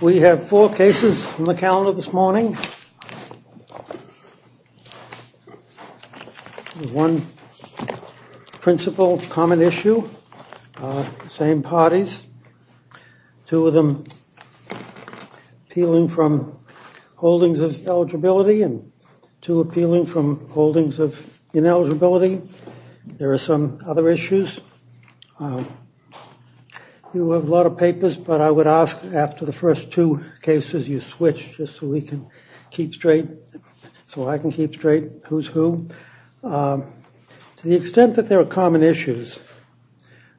We have four cases in the calendar this morning. One principal common issue, same parties, two of them appealing from holdings of eligibility and two appealing from holdings of ineligibility. There are some other issues. You have a lot of issues, but I would ask after the first two cases you switch just so we can keep straight, so I can keep straight who's who. To the extent that there are common issues,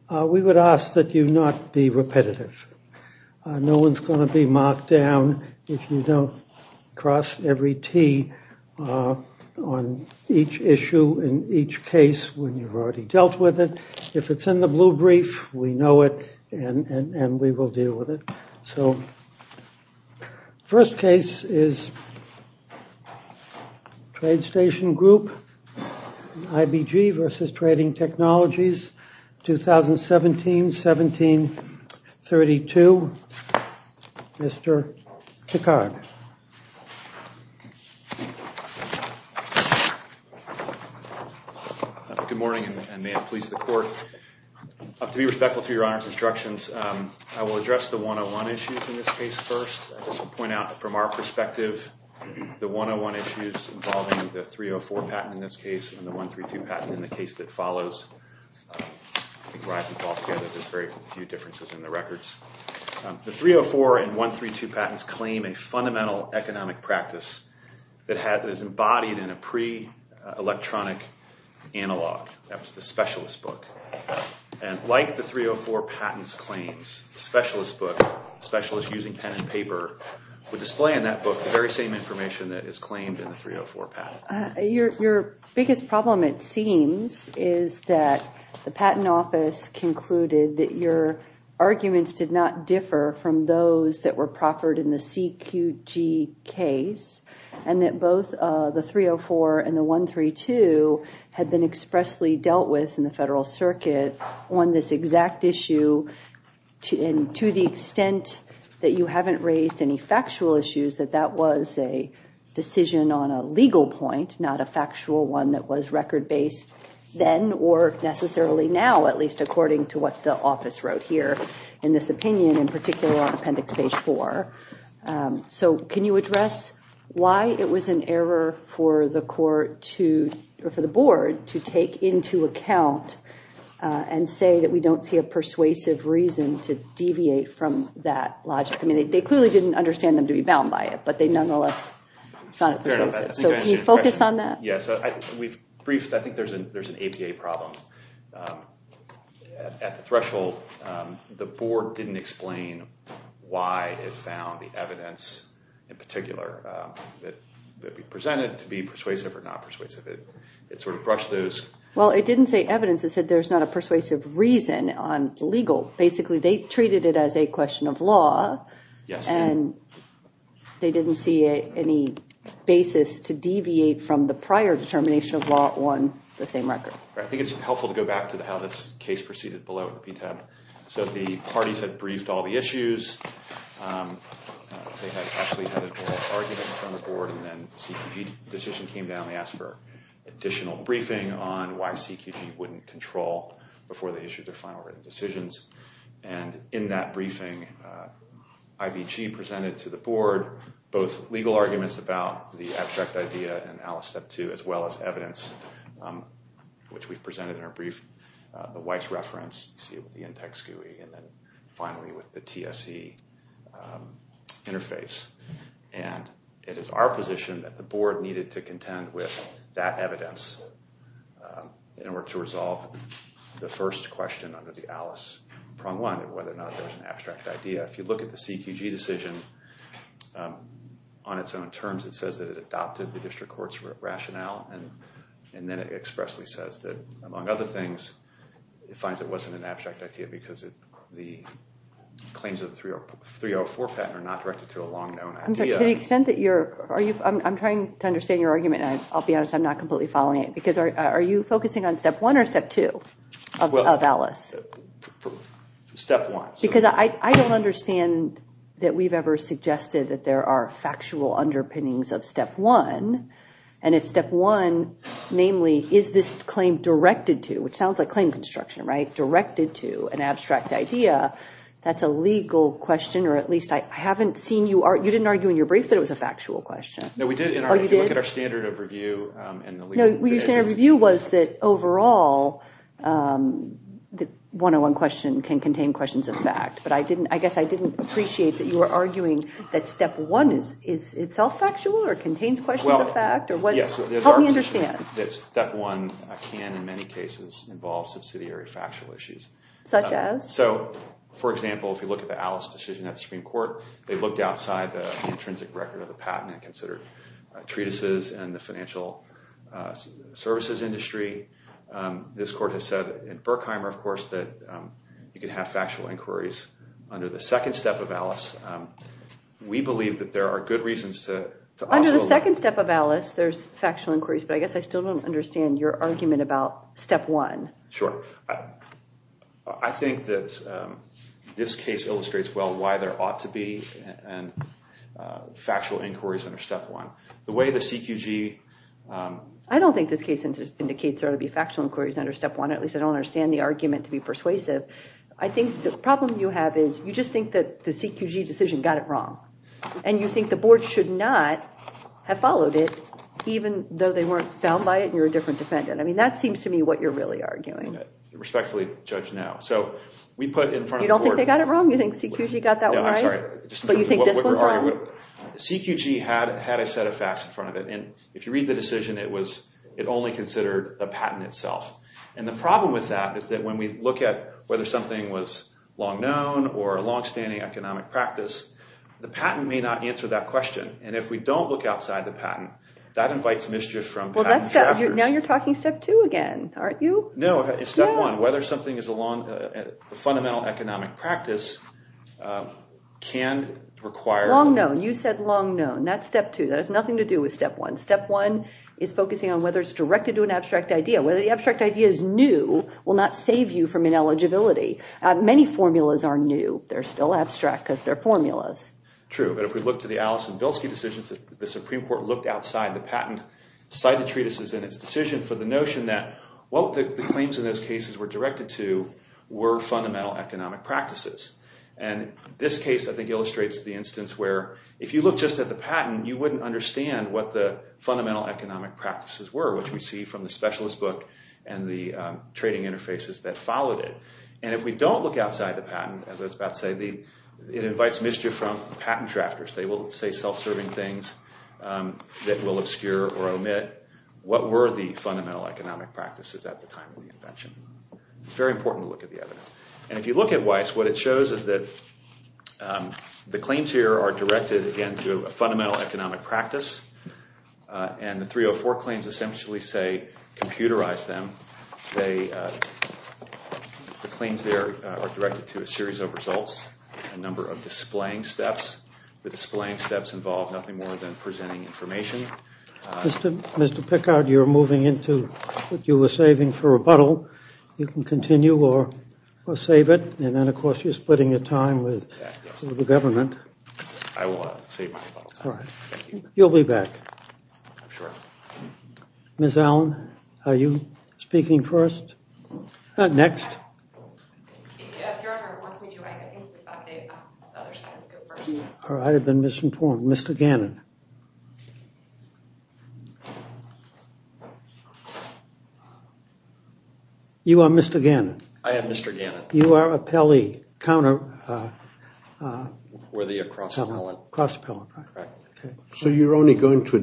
we would ask that you not be repetitive. No one's going to be mocked down if you don't cross every T on each issue in each case when you've already dealt with it. So first case is Trade Station Group, IBG v. Trading Technologies, 2017-17-32. Mr. Kikar. Good morning and may it please the court, to be addressed the 101 issues in this case first. I just want to point out from our perspective the 101 issues involving the 304 patent in this case and the 132 patent in the case that follows. I think rise and fall together, there's very few differences in the records. The 304 and 132 patents claim a fundamental economic practice that is embodied in a pre-electronic analog. That was the specialist book, Specialist Using Pen and Paper, would display in that book the very same information that is claimed in the 304 patent. Your biggest problem, it seems, is that the Patent Office concluded that your arguments did not differ from those that were proffered in the CQG case and that both the 304 and the 132 had been expressly dealt with in the Federal Circuit on this exact issue and to the extent that you haven't raised any factual issues that that was a decision on a legal point, not a factual one that was record-based then or necessarily now, at least according to what the office wrote here in this opinion, in particular on Appendix Page 4. So can you address why it was an error for the court to, or for the board, to take into account and say that we don't see a persuasive reason to deviate from that logic? I mean, they clearly didn't understand them to be bound by it, but they nonetheless found it persuasive. So can you focus on that? Yes, we've briefed, I think there's an APA problem. At the threshold, the board didn't explain why it found the evidence in particular that we presented to be persuasive or not persuasive. It sort of brushed those... Well, it didn't say persuasive reason on legal. Basically, they treated it as a question of law and they didn't see any basis to deviate from the prior determination of law on the same record. I think it's helpful to go back to how this case proceeded below the PTAB. So the parties had briefed all the issues, they had actually had an oral argument from the board, and then the CQG decision came down, they asked for additional briefing on why CQG wouldn't control before they issued their final written decisions. And in that briefing, IBG presented to the board both legal arguments about the abstract idea and Alice Step 2, as well as evidence, which we've presented in our brief. The Weiss reference, you see it with the Intex GUI, and then finally with the TSE interface. And it is our position that the board needed to contend with that resolve the first question under the Alice prong one, whether or not there's an abstract idea. If you look at the CQG decision on its own terms, it says that it adopted the district court's rationale, and then it expressly says that, among other things, it finds it wasn't an abstract idea because the claims of the 304 patent are not directed to a long-known idea. To the extent that you're... I'm trying to understand your argument, and I'll be honest, I'm not completely following it, because are you focusing on Step 1 or Step 2 of Alice? Step 1. Because I don't understand that we've ever suggested that there are factual underpinnings of Step 1, and if Step 1, namely, is this claim directed to, which sounds like claim construction, right? Directed to an abstract idea. That's a legal question, or at least I haven't seen you... you didn't argue in your brief that it was a factual question. No, we did. If you look at our standard of review and the legal... Well, your standard of review was that, overall, the 101 question can contain questions of fact, but I didn't... I guess I didn't appreciate that you were arguing that Step 1 is itself factual, or contains questions of fact, or what... Yes. Help me understand. That Step 1 can, in many cases, involve subsidiary factual issues. Such as? So, for example, if you look at the Alice decision at the Supreme Court, they looked outside the intrinsic record of the patent and considered treatises and the financial services industry. This court has said in Berkheimer, of course, that you can have factual inquiries under the second step of Alice. We believe that there are good reasons to... Under the second step of Alice, there's factual inquiries, but I guess I still don't understand your argument about Step 1. Sure. I think that this case illustrates well why there ought to be factual inquiries under Step 1. The way the CQG... I don't think this case indicates there ought to be factual inquiries under Step 1. At least, I don't understand the argument to be persuasive. I think the problem you have is you just think that the CQG decision got it wrong, and you think the board should not have followed it, even though they weren't found by it, and you're a different defendant. I mean, that seems to me what you're really arguing. Respectfully CQG had a set of facts in front of it, and if you read the decision, it only considered the patent itself. And the problem with that is that when we look at whether something was long known or a long-standing economic practice, the patent may not answer that question. And if we don't look outside the patent, that invites mischief from patent trackers. Now you're talking Step 2 again, aren't you? No. In Step 1, whether something is a fundamental economic practice can require... Long known. You said long known. That's Step 2. That has nothing to do with Step 1. Step 1 is focusing on whether it's directed to an abstract idea. Whether the abstract idea is new will not save you from ineligibility. Many formulas are new. They're still abstract because they're formulas. True, but if we look to the Alice and Bilski decisions, the Supreme Court looked outside the patent, cited treatises in its decision for the notion that what the claims in those cases were directed to were fundamental economic practices. And this case, I think, illustrates the instance where if you look just at the patent, you wouldn't understand what the fundamental economic practices were, which we see from the specialist book and the trading interfaces that followed it. And if we don't look outside the patent, as I was about to say, it invites mischief from patent drafters. They will say self-serving things that will obscure or omit what were the fundamental economic practices at the time of the invention. It's very important to look at the case. What it shows is that the claims here are directed, again, to a fundamental economic practice. And the 304 claims essentially say, computerize them. The claims there are directed to a series of results, a number of displaying steps. The displaying steps involve nothing more than presenting information. Mr. Pickard, you're moving into what you were saving for rebuttal. You can continue or save it. And then, of course, you're splitting your time with the government. You'll be back. Ms. Allen, are you speaking first? Next. I have been misinformed. Mr. Gannon. You are Mr. Gannon. I am Mr. Gannon. You are a Pelley counter. Were they a cross appellant? Cross appellant. So you're only going to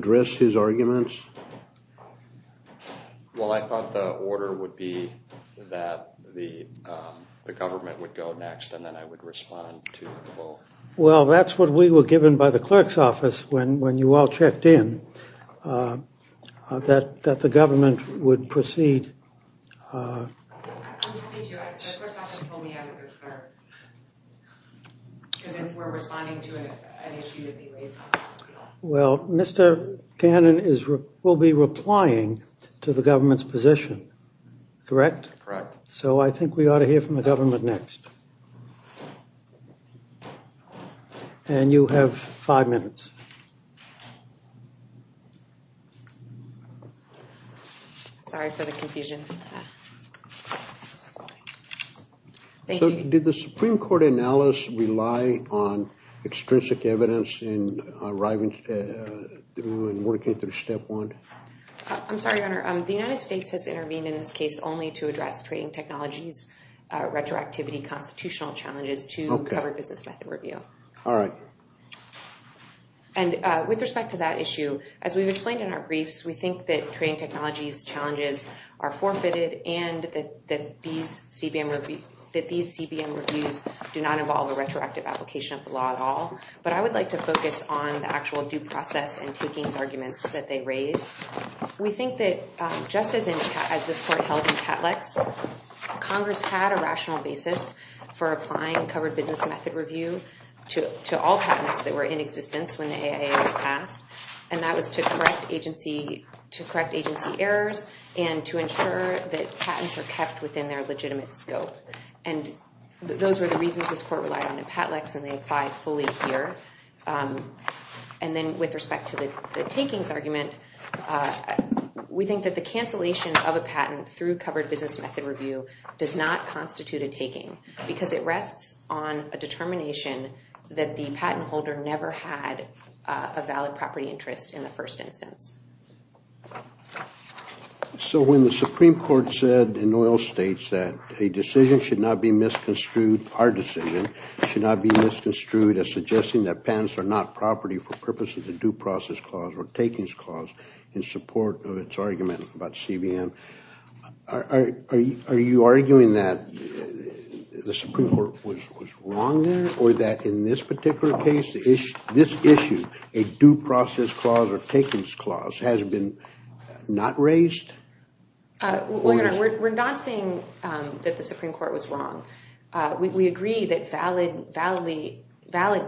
the government would go next, and then I would respond to both. Well, that's what we were given by the clerk's office when you all checked in, that the government would proceed. Well, Mr. Gannon will be replying to the government's position, correct? Correct. So I think we ought to hear from the government next. And you have five minutes. Sorry for the confusion. Did the Supreme Court analysis rely on extrinsic evidence in arriving through and working through step one? I'm sorry, Your Honor. The United States has intervened in this case only to address trading technologies, retroactivity, constitutional challenges to cover business method review. All right. And with respect to that issue, as we've explained in our briefs, we think that trading technologies challenges are forfeited and that these CBM reviews do not involve a retroactive application of the law at all. But I would like to focus on the actual due process and Congress had a rational basis for applying a covered business method review to all patents that were in existence when the AIA was passed. And that was to correct agency errors and to ensure that patents are kept within their legitimate scope. And those were the reasons this court relied on in Patlex, and they apply fully here. And then with respect to the takings argument, we think that the cancellation of a patent through covered business method review does not constitute a taking because it rests on a determination that the patent holder never had a valid property interest in the first instance. So when the Supreme Court said in oil states that a decision should not be misconstrued, our decision should not be misconstrued as suggesting that patents are not property for in support of its argument about CBM. Are you arguing that the Supreme Court was wrong there or that in this particular case, this issue, a due process clause or takings clause has been not raised? We're not saying that the Supreme Court was wrong. We agree that valid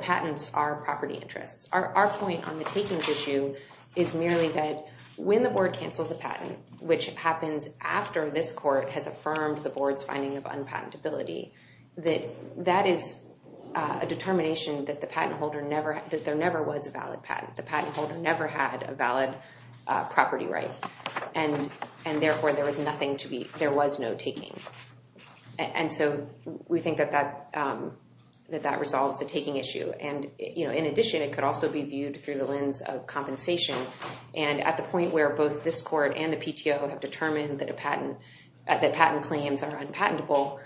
patents are property interests. Our point on the takings issue is merely that when the board cancels a patent, which happens after this court has affirmed the board's finding of unpatentability, that that is a determination that there never was a valid patent. The patent holder never had a valid property right. And therefore, there was no taking. And so we think that that resolves the taking issue. And in addition, it could also be viewed through the lens of compensation. And at the point where both this court and the PTO have determined that patent claims are unpatentable,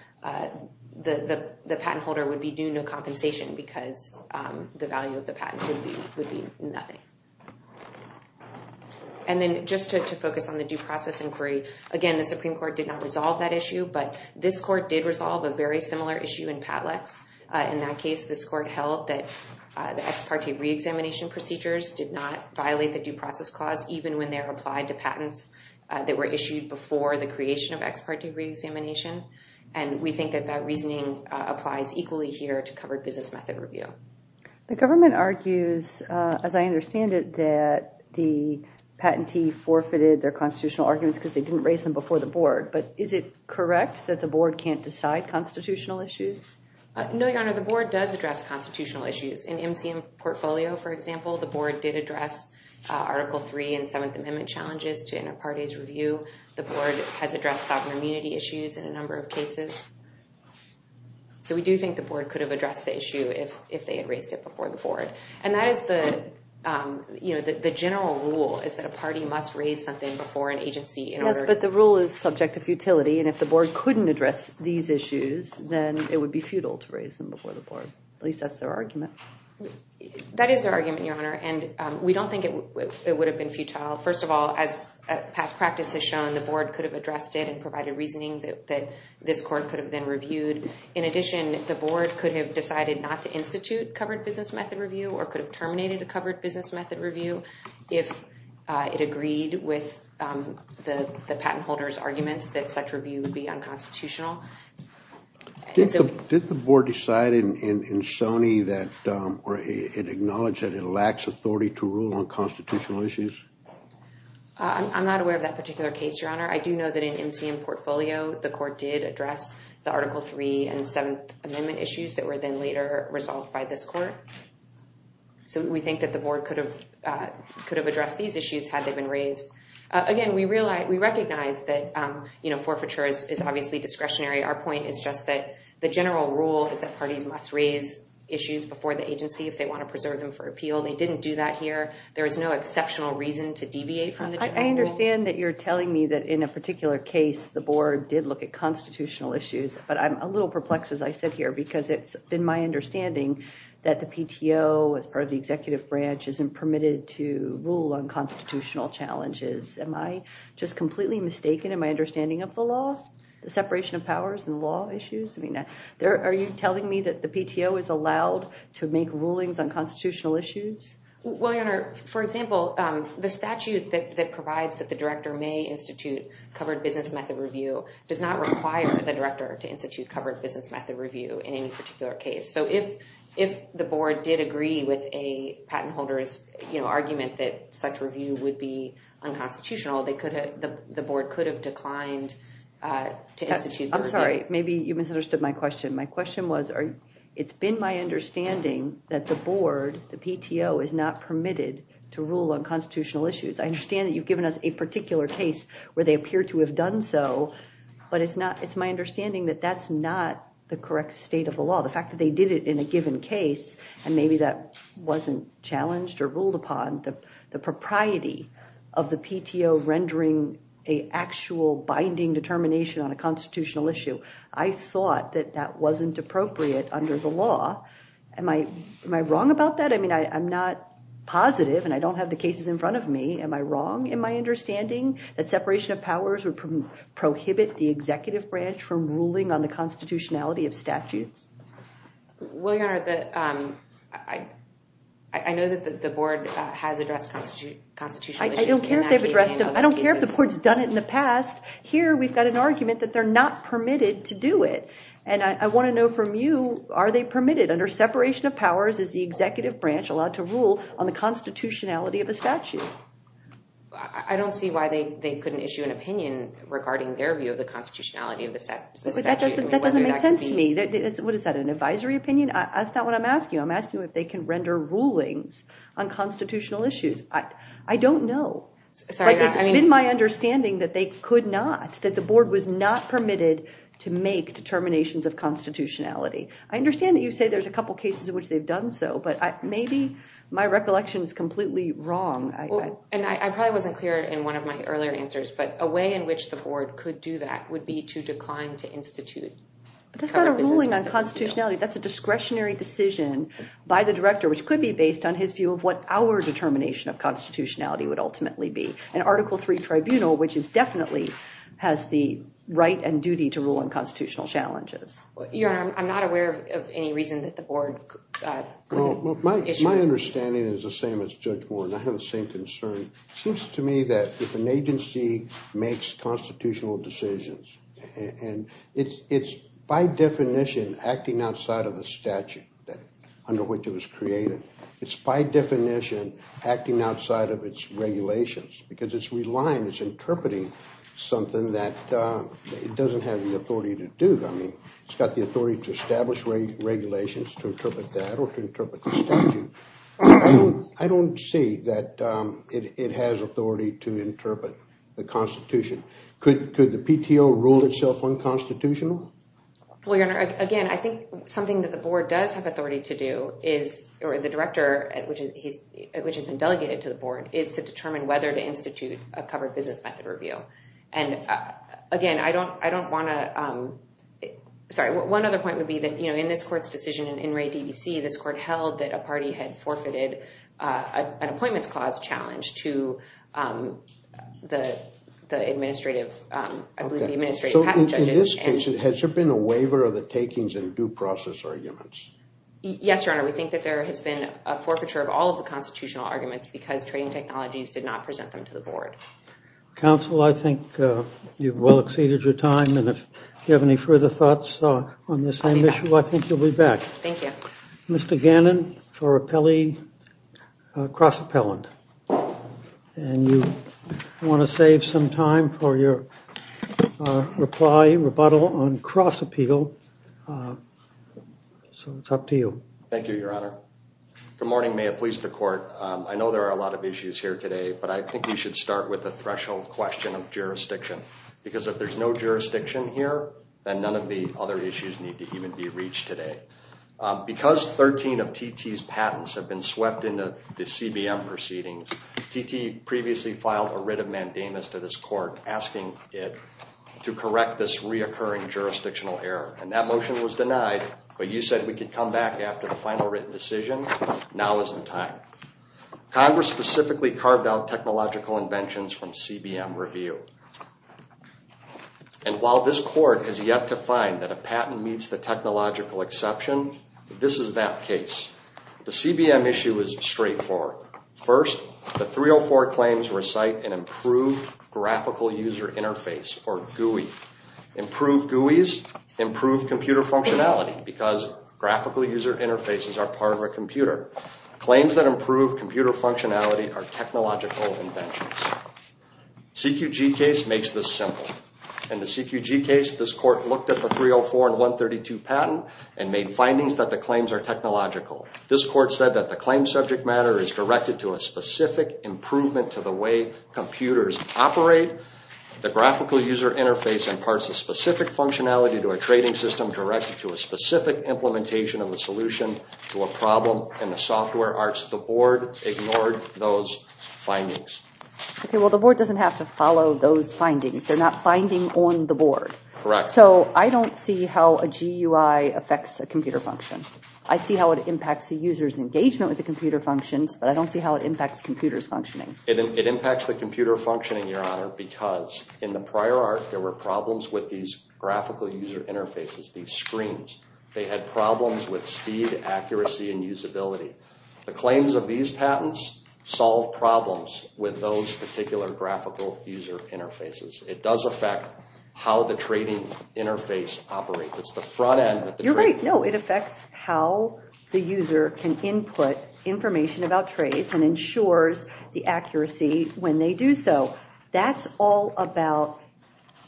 the patent holder would be due no compensation because the value of the patent would be nothing. And then just to focus on the due process inquiry, again, the Supreme Court did not resolve that issue, but this court did resolve a very similar issue in Patlex. In that case, this court held that the ex parte re-examination procedures did not violate the due process clause even when they're applied to patents that were issued before the creation of ex parte re-examination. And we think that that reasoning applies equally here to covered business method review. The government argues, as I understand it, that the patentee forfeited their constitutional arguments because they didn't raise them before the board. But is it correct that the board can't address constitutional issues? No, Your Honor, the board does address constitutional issues. In MCM portfolio, for example, the board did address Article III and Seventh Amendment challenges to inter-parties review. The board has addressed sovereign immunity issues in a number of cases. So we do think the board could have addressed the issue if they had raised it before the board. And that is the general rule, is that a party must raise something before an agency in order- and if the board couldn't address these issues, then it would be futile to raise them before the board. At least that's their argument. That is their argument, Your Honor, and we don't think it would have been futile. First of all, as past practice has shown, the board could have addressed it and provided reasoning that this court could have then reviewed. In addition, the board could have decided not to institute covered business method review or could have terminated a covered business method review if it agreed with the patent holder's arguments that such review would be unconstitutional. Did the board decide in Sony that or it acknowledged that it lacks authority to rule on constitutional issues? I'm not aware of that particular case, Your Honor. I do know that in MCM portfolio, the court did address the Article III and Seventh Amendment issues that were then later resolved by this court. So we think that the board could have addressed these issues had they been raised. Again, we recognize that forfeiture is obviously discretionary. Our point is just that the general rule is that parties must raise issues before the agency if they want to preserve them for appeal. They didn't do that here. There is no exceptional reason to deviate from the general rule. I understand that you're telling me that in a particular case, the board did look at constitutional issues, but I'm a little perplexed, as I sit here, because it's been my understanding that the PTO, as part of the executive branch, isn't permitted to rule on constitutional challenges. Am I just completely mistaken in my understanding of the law, the separation of powers and law issues? I mean, are you telling me that the PTO is allowed to make rulings on constitutional issues? Well, Your Honor, for example, the statute that provides that the director may institute covered business method review does not require the director to So if the board did agree with a patent holder's argument that such review would be unconstitutional, the board could have declined to institute the review. I'm sorry, maybe you misunderstood my question. My question was, it's been my understanding that the board, the PTO, is not permitted to rule on constitutional issues. I understand that you've given us a particular case where they appear to have done so, but it's my understanding that that's not the correct state of the law. The fact that they did it in a given case, and maybe that wasn't challenged or ruled upon, the propriety of the PTO rendering an actual binding determination on a constitutional issue, I thought that that wasn't appropriate under the law. Am I wrong about that? I mean, I'm not positive, and I don't have the cases in front of me. Am I wrong in my understanding that separation of powers would prohibit the executive branch from ruling on the constitutionality of statutes? Well, your honor, I know that the board has addressed constitutional issues. I don't care if they've addressed them. I don't care if the board's done it in the past. Here we've got an argument that they're not permitted to do it, and I want to know from you, are they permitted? Under separation of powers, is the executive branch allowed to rule on the constitutionality of a statute? I don't see why they couldn't issue an opinion regarding their view of the constitutionality of the statute. That doesn't make sense to me. What is that, an advisory opinion? That's not what I'm asking. I'm asking if they can render rulings on constitutional issues. I don't know. It's been my understanding that they could not, that the board was not permitted to make determinations of constitutionality. I understand that you say there's a couple cases in which they've done so, but maybe my recollection is completely wrong. And I probably wasn't clear in one of my earlier answers, but a way in which the board could do that would be to decline to institute. That's not a ruling on constitutionality. That's a discretionary decision by the director, which could be based on his view of what our determination of constitutionality would ultimately be. An article three tribunal, which is definitely, has the right and duty to rule on constitutional challenges. Your honor, I'm not aware of any reason that the board could issue. My understanding is the same as Judge Warren. I have the same concern. It seems to me that if an agency makes constitutional decisions, and it's by definition acting outside of the statute under which it was created, it's by definition acting outside of its regulations because it's relying, it's interpreting something that it doesn't have the authority to do. I mean, it's got the authority to establish regulations to interpret that or to interpret the statute. I don't see that it has authority to interpret the constitution. Could the PTO rule itself unconstitutional? Well, your honor, again, I think something that the board does have authority to do is, or the director, which has been delegated to the board, is to determine whether to institute a covered business method review. And again, I don't want to, sorry, one other point would be that in this court's decision in Ray DBC, this court held that a party had forfeited an appointments clause challenge to the administrative, I believe the administrative patent judges. So in this case, has there been a waiver of the takings and due process arguments? Yes, your honor. We think that there has been a forfeiture of all of the constitutional arguments because trading technologies did not present them to the board. Counsel, I think you've well exceeded your time and if you have any further thoughts on this same issue, I think you'll be back. Thank you. Mr. Gannon for cross-appellant. And you want to save some time for your reply, rebuttal on cross-appeal. So it's up to you. Thank you, your honor. Good morning, may it please the court. I know there are a lot of issues here today, but I think we should start with a threshold question of jurisdiction. Because if there's no jurisdiction here, then none of the other issues need to even be reached today. Because 13 of TT's patents have been swept into the CBM proceedings, TT previously filed a writ of mandamus to this court asking it to correct this reoccurring jurisdictional error. And that motion was denied, but you said we could come back after the final written decision, now is the time. Congress specifically carved out technological inventions from CBM review. And while this court has yet to find that a patent meets the technological exception, this is that case. The CBM issue is straightforward. First, the 304 claims recite an improved graphical user interface or GUI. Improved GUIs improve computer functionality because graphical user interfaces are part of a computer. Claims that improve computer functionality are technological inventions. CQG case makes this simple. In the CQG case, this court looked at the 304 and 132 patent and made findings that the claims are technological. This court said that the claim subject matter is directed to a specific improvement to the way computers operate. The graphical user interface imparts a specific functionality to a trading system directed to a specific implementation of a solution to a problem in the software arts. The board ignored those findings. Okay, well the board doesn't have to follow those findings. They're not finding on the board. Correct. So I don't see how a GUI affects a computer function. I see how it impacts the user's engagement with the computer functions, but I don't see how it impacts computers functioning. It impacts the computer functioning, Your Honor, because in prior art, there were problems with these graphical user interfaces, these screens. They had problems with speed, accuracy, and usability. The claims of these patents solve problems with those particular graphical user interfaces. It does affect how the trading interface operates. It's the front end. You're right. No, it affects how the user can input information about trades and ensures the accuracy when they do so. That's all about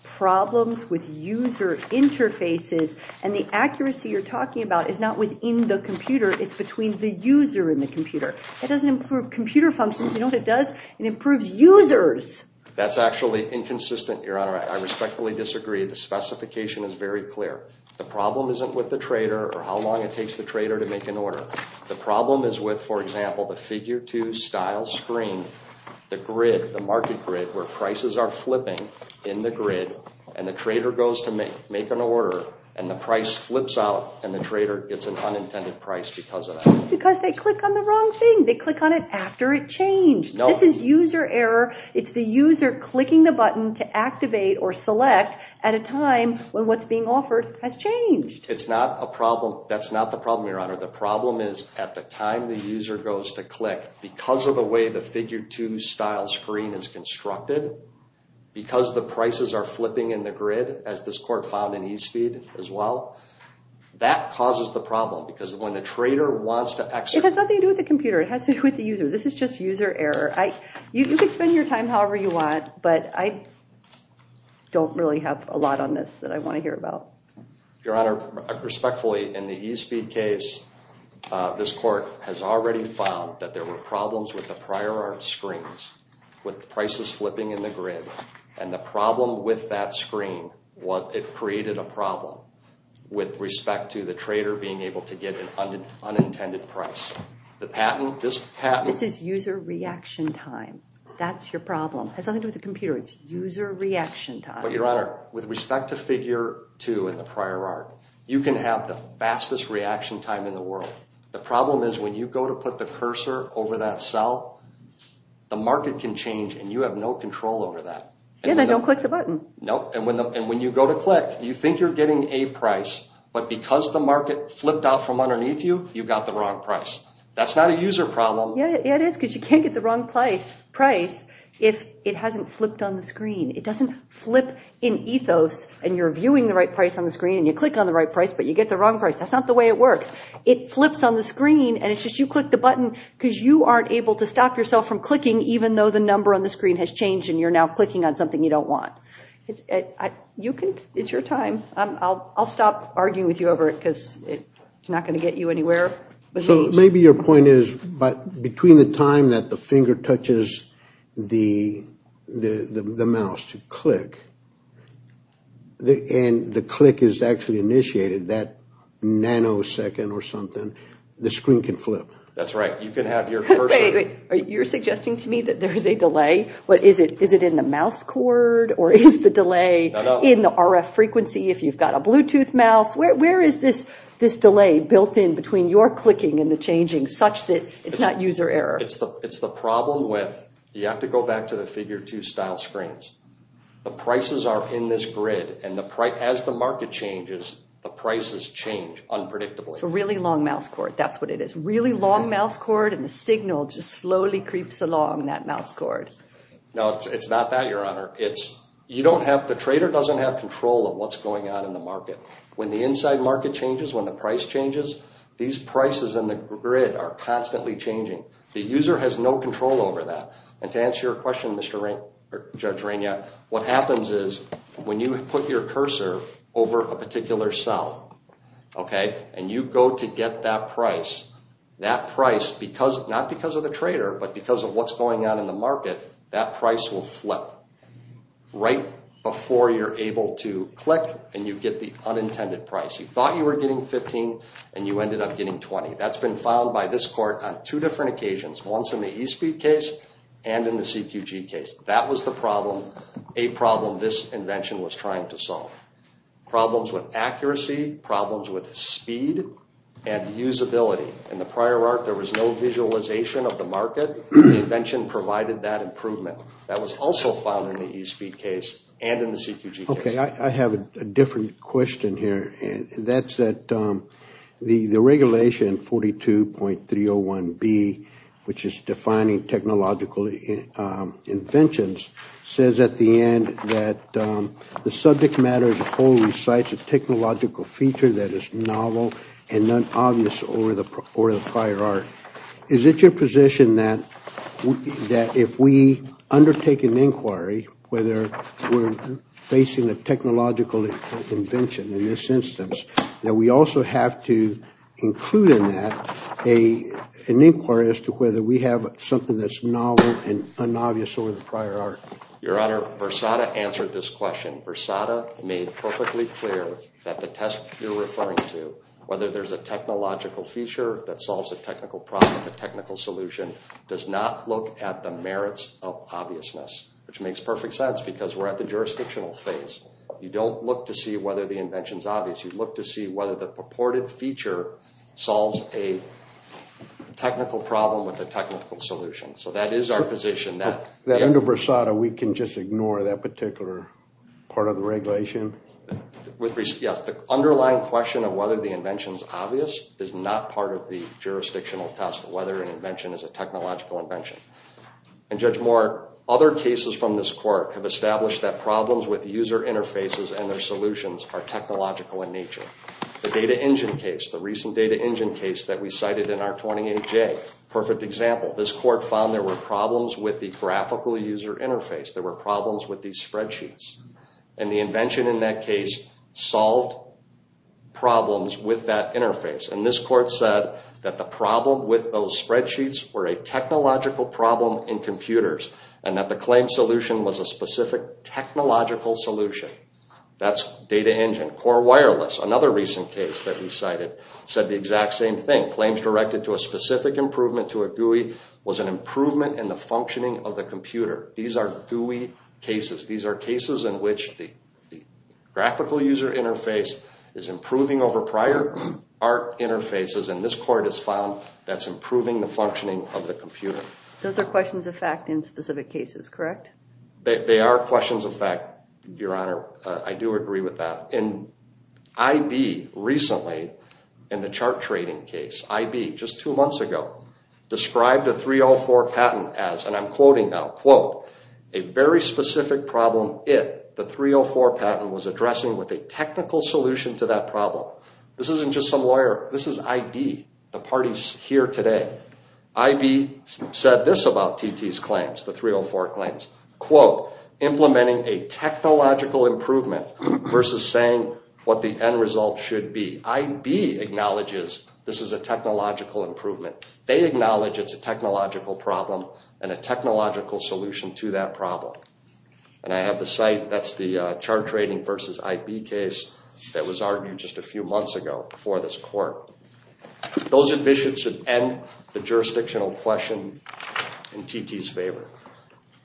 problems with user interfaces, and the accuracy you're talking about is not within the computer. It's between the user and the computer. It doesn't improve computer functions. You know what it does? It improves users. That's actually inconsistent, Your Honor. I respectfully disagree. The specification is very clear. The problem isn't with the trader or how long it takes the trader to make an order. The problem is with, for example, the figure two style screen, the grid, the market grid, where prices are flipping in the grid, and the trader goes to make an order, and the price flips out, and the trader gets an unintended price because of that. Because they click on the wrong thing. They click on it after it changed. No. This is user error. It's the user clicking the button to activate or select at a time when what's being offered has changed. It's not a problem. That's not the problem, Your Honor. The problem is at the time the user goes to click, because of the way the figure two style screen is constructed, because the prices are flipping in the grid, as this court found in eSpeed as well, that causes the problem. Because when the trader wants to exit... It has nothing to do with the computer. It has to do with the user. This is just user error. You can spend your time however you want, but I don't really have a lot on this that I want to hear about. Your Honor, respectfully, in the eSpeed case, this court has already found that there were problems with the prior art screens, with prices flipping in the grid, and the problem with that screen, it created a problem with respect to the trader being able to get an unintended price. The patent, this patent... This is user reaction time. That's your problem. It has nothing to do with the computer. It's user reaction time. But Your Honor, with respect to figure two in the prior art, you can have the fastest reaction time in the world. The problem is when you go to put the cursor over that cell, the market can change and you have no control over that. Yeah, then don't click the button. Nope. And when you go to click, you think you're getting a price, but because the that's not a user problem. Yeah, it is because you can't get the wrong price if it hasn't flipped on the screen. It doesn't flip in ethos and you're viewing the right price on the screen and you click on the right price but you get the wrong price. That's not the way it works. It flips on the screen and it's just you click the button because you aren't able to stop yourself from clicking even though the number on the screen has changed and you're now clicking on something you don't want. It's your time. I'll stop arguing with you over it because it's not going to get you anywhere. So maybe your point is between the time that the finger touches the mouse to click and the click is actually initiated, that nanosecond or something, the screen can flip. That's right. You can have your cursor... Wait, wait. You're suggesting to me that there's a delay? Is it in the mouse cord or is the delay in the RF frequency if you've got a clicking and the changing such that it's not user error? It's the problem with... You have to go back to the figure two style screens. The prices are in this grid and as the market changes, the prices change unpredictably. It's a really long mouse cord. That's what it is. Really long mouse cord and the signal just slowly creeps along that mouse cord. No, it's not that, Your Honor. The trader doesn't have control of what's going on in the market. When the inside market changes, when the price changes, these prices in the grid are constantly changing. The user has no control over that. And to answer your question, Judge Rania, what happens is when you put your cursor over a particular cell and you go to get that price, that price, not because of the trader, but because of what's going on in the market, that price will flip right before you're able to click and you get the unintended price. You thought you were getting 15 and you ended up getting 20. That's been found by this court on two different occasions, once in the eSpeed case and in the CQG case. That was the problem, a problem this invention was trying to solve. Problems with accuracy, problems with speed and usability. In the prior arc, there was no visualization of the market. The invention provided that improvement. That was also found in the eSpeed case and in the CQG case. I have a different question here. The regulation 42.301B, which is defining technological inventions, says at the end that the subject matter as a whole recites a technological feature that is novel and not obvious over the prior arc. Is it your position that if we undertake an technological invention in this instance, that we also have to include in that an inquiry as to whether we have something that's novel and unobvious over the prior arc? Your Honor, Versada answered this question. Versada made perfectly clear that the test you're referring to, whether there's a technological feature that solves a technical problem, a technical solution, does not look at the merits of obviousness, which makes perfect sense because we're at jurisdictional phase. You don't look to see whether the invention is obvious. You look to see whether the purported feature solves a technical problem with a technical solution. So that is our position. Under Versada, we can just ignore that particular part of the regulation? Yes. The underlying question of whether the invention is obvious is not part of the jurisdictional test of whether an invention is a technological invention. And Judge Moore, other cases from this court have established that problems with user interfaces and their solutions are technological in nature. The data engine case, the recent data engine case that we cited in R28J, perfect example. This court found there were problems with the graphical user interface. There were problems with these spreadsheets. And the invention in that case solved problems with that interface. And this court said that the problem with those spreadsheets were a technological problem in computers and that the claim solution was a specific technological solution. That's data engine. Core wireless, another recent case that we cited, said the exact same thing. Claims directed to a specific improvement to a GUI was an improvement in the functioning of the computer. These are GUI cases. These are cases in which the graphical user interface is improving over prior ART interfaces. And this court has found that's improving the functioning of the computer. Those are questions of fact in specific cases, correct? They are questions of fact, Your Honor. I do agree with that. And IB recently, in the chart trading case, IB just two months ago, described the 304 patent as, and I'm quoting now, quote, a very specific problem if the 304 patent was addressing with a technical solution to that problem. This isn't just some lawyer. This is IB, the parties here today. IB said this about TT's claims, the 304 claims, quote, implementing a technological improvement versus saying what the end result should be. IB acknowledges this is a technological improvement. They acknowledge it's a technological problem and a technological solution to that problem. And I have the site, that's the chart trading versus IB case that was argued just a few months ago before this court. Those admissions should end the jurisdictional question in TT's favor.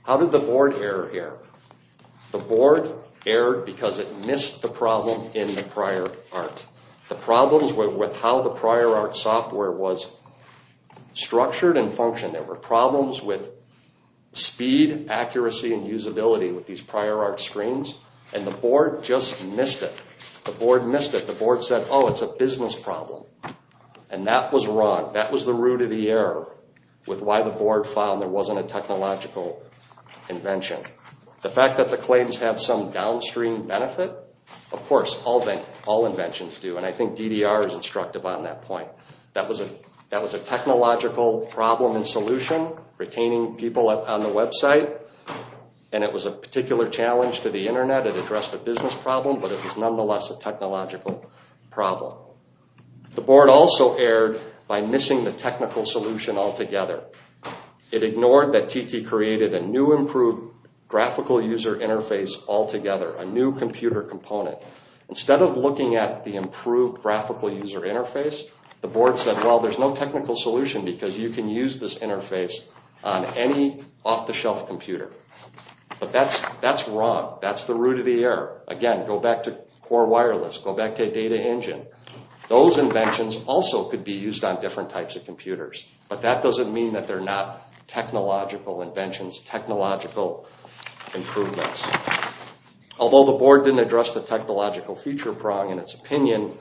How did the board error here? The board errored because it missed the problem in the prior ART. The problems with how the prior ART software was structured and speed, accuracy, and usability with these prior ART screens. And the board just missed it. The board missed it. The board said, oh, it's a business problem. And that was wrong. That was the root of the error with why the board found there wasn't a technological invention. The fact that the claims have some downstream benefit, of course, all inventions do. And I think DDR is instructive on that point. That was a technological problem and solution retaining people on the website. And it was a particular challenge to the internet. It addressed a business problem, but it was nonetheless a technological problem. The board also erred by missing the technical solution altogether. It ignored that TT created a new improved graphical user interface altogether, a new computer component. Instead of looking at the improved graphical user interface, the board said, well, there's no technical solution because you can use this interface on any off-the-shelf computer. But that's wrong. That's the root of the error. Again, go back to core wireless. Go back to data engine. Those inventions also could be used on different types of computers, but that doesn't mean that they're not technological inventions, technological improvements. Although the board didn't address the technological feature prong in its opinion,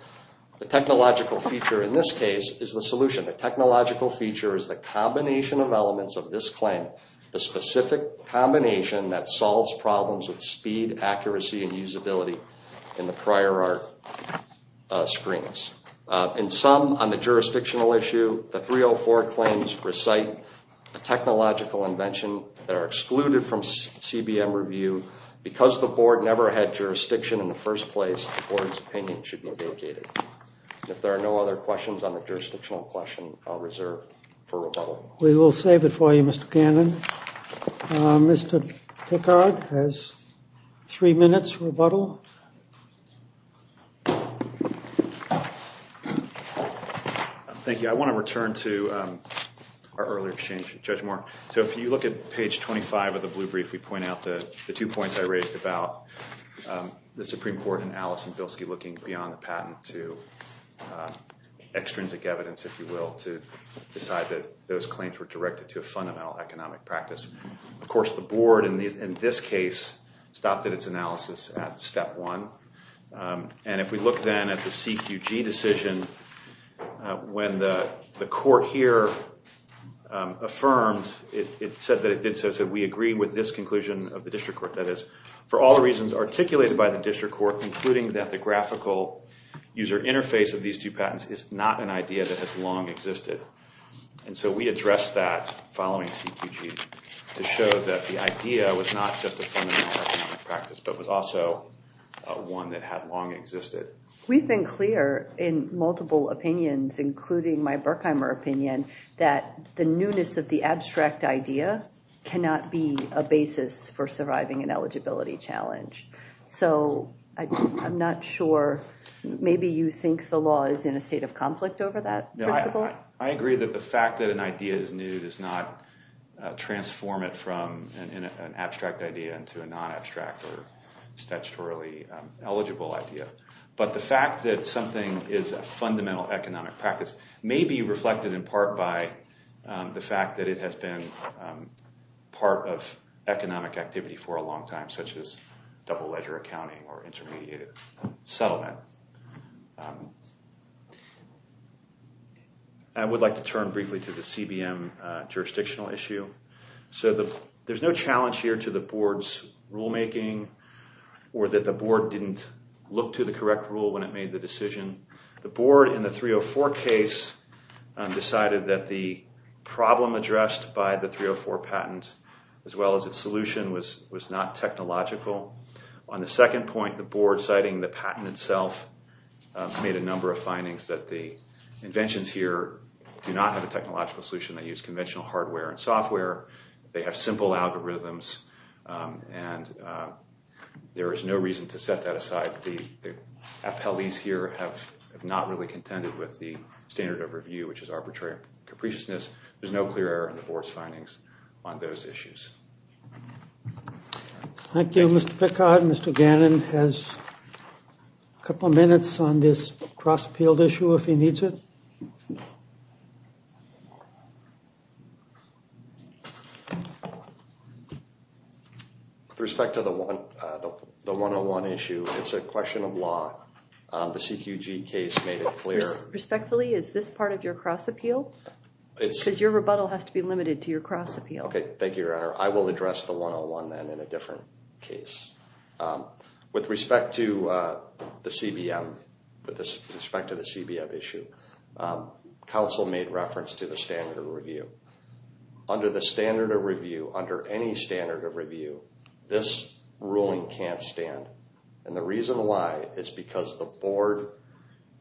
the technological feature in this case is the solution. The technological feature is the combination of elements of this claim, the specific combination that solves problems with speed, accuracy, and usability in the prior art screens. In sum, on the jurisdictional issue, the 304 claims recite a technological invention that are excluded from CBM review. Because the board never had jurisdiction in the first place, the board's opinion should be abrogated. If there are no other questions on the jurisdictional question, I'll reserve for rebuttal. We will save it for you, Mr. Cannon. Mr. Pickard has three minutes rebuttal. Thank you. I want to return to our earlier exchange with Judge Moore. So if you look at page 25 of the blue brief, we point out the two points I raised about the Supreme Court and Alice and Bilski looking beyond the patent to extrinsic evidence, if you will, to decide that those claims were directed to a fundamental economic practice. Of course, the board in this case stopped at its analysis at step one. And if we look then at the CQG decision, when the court here affirmed, it said that it did so, it said, we agree with this conclusion of the district court. That is, for all the reasons articulated by the district court, including that the graphical user interface of these two patents is not an idea that has existed. And so we addressed that following CQG to show that the idea was not just a practice, but was also one that has long existed. We've been clear in multiple opinions, including my Burkheimer opinion, that the newness of the abstract idea cannot be a basis for surviving an eligibility challenge. So I'm not sure, maybe you think the law is in a state of I agree that the fact that an idea is new does not transform it from an abstract idea into a non-abstract or statutorily eligible idea. But the fact that something is a fundamental economic practice may be reflected in part by the fact that it has been part of economic activity for a long time, such as double-ledger accounting or intermediate settlement. I would like to turn briefly to the CBM jurisdictional issue. So there's no challenge here to the board's rulemaking or that the board didn't look to the correct rule when it made the decision. The board in the 304 case decided that the problem addressed by the 304 patent, as well as its solution, was not technological. On the second point, the board citing the patent itself made a number of findings that the inventions here do not have a technological solution. They use conventional hardware and software. They have simple algorithms, and there is no reason to set that aside. The appellees here have not really contended with the standard of review, which is arbitrary capriciousness. There's no clear error in the issues. Thank you, Mr. Pickard. Mr. Gannon has a couple minutes on this cross-appealed issue if he needs it. With respect to the 101 issue, it's a question of law. The CQG case made it clear. Respectfully, is this part of your cross-appeal? Because your rebuttal has to be limited to your cross-appeal. Okay, thank you, Your Honor. I will address the 101 then in a different case. With respect to the CBM, with respect to the CBM issue, counsel made reference to the standard of review. Under the standard of review, under any standard of review, this ruling can't stand. And the reason why is because the board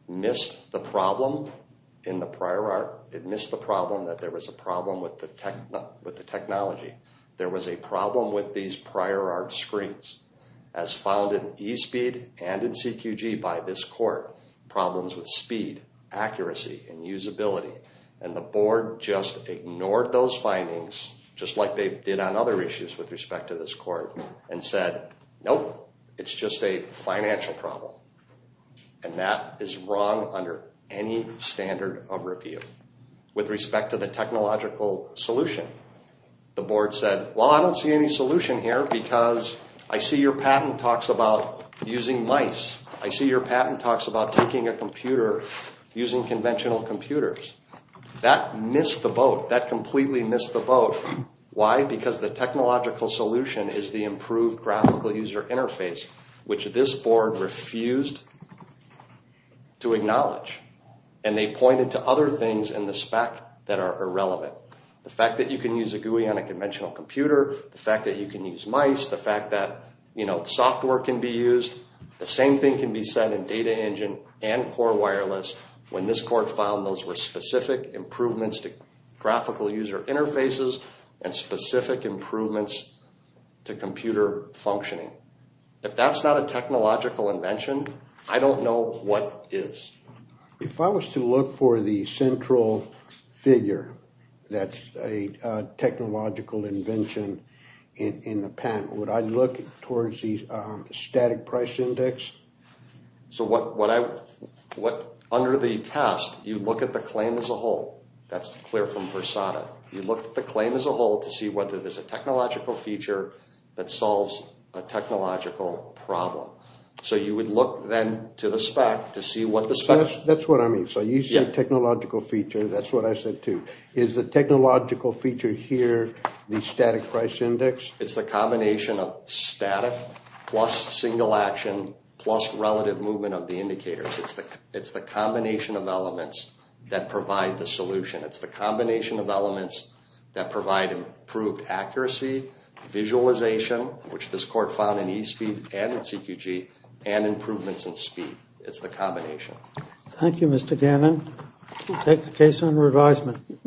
missed the problem in the prior art. It missed the problem that there was a problem with the technology. There was a problem with these prior art screens as found in eSpeed and in CQG by this court. Problems with speed, accuracy, and usability. And the board just ignored those findings just like they did on other issues with respect to this court and said, nope, it's just a financial problem. And that is wrong under any standard of review. It's a technological solution. The board said, well, I don't see any solution here because I see your patent talks about using mice. I see your patent talks about taking a computer, using conventional computers. That missed the boat. That completely missed the boat. Why? Because the technological solution is the improved graphical user interface, which this board refused to acknowledge. And they pointed to other things in the spec that are irrelevant. The fact that you can use a GUI on a conventional computer. The fact that you can use mice. The fact that, you know, software can be used. The same thing can be said in data engine and core wireless when this court found those were specific improvements to graphical user interfaces and specific improvements to computer functioning. If that's not a technological invention, I don't know what is. If I was to look for the central figure that's a technological invention in the patent, would I look towards the static price index? So under the test, you look at the claim as a whole. That's clear from Versada. You look at the claim as a whole to see whether there's a technological feature that solves a technological problem. So you would look then to the spec to see what the spec... That's what I mean. So you said technological feature. That's what I said too. Is the technological feature here the static price index? It's the combination of static plus single action plus relative movement of the indicators. It's the combination of elements that provide the visualization, which this court found in eSPEED and in CQG, and improvements in speed. It's the combination. Thank you, Mr. Gannon. We'll take the case on revisement.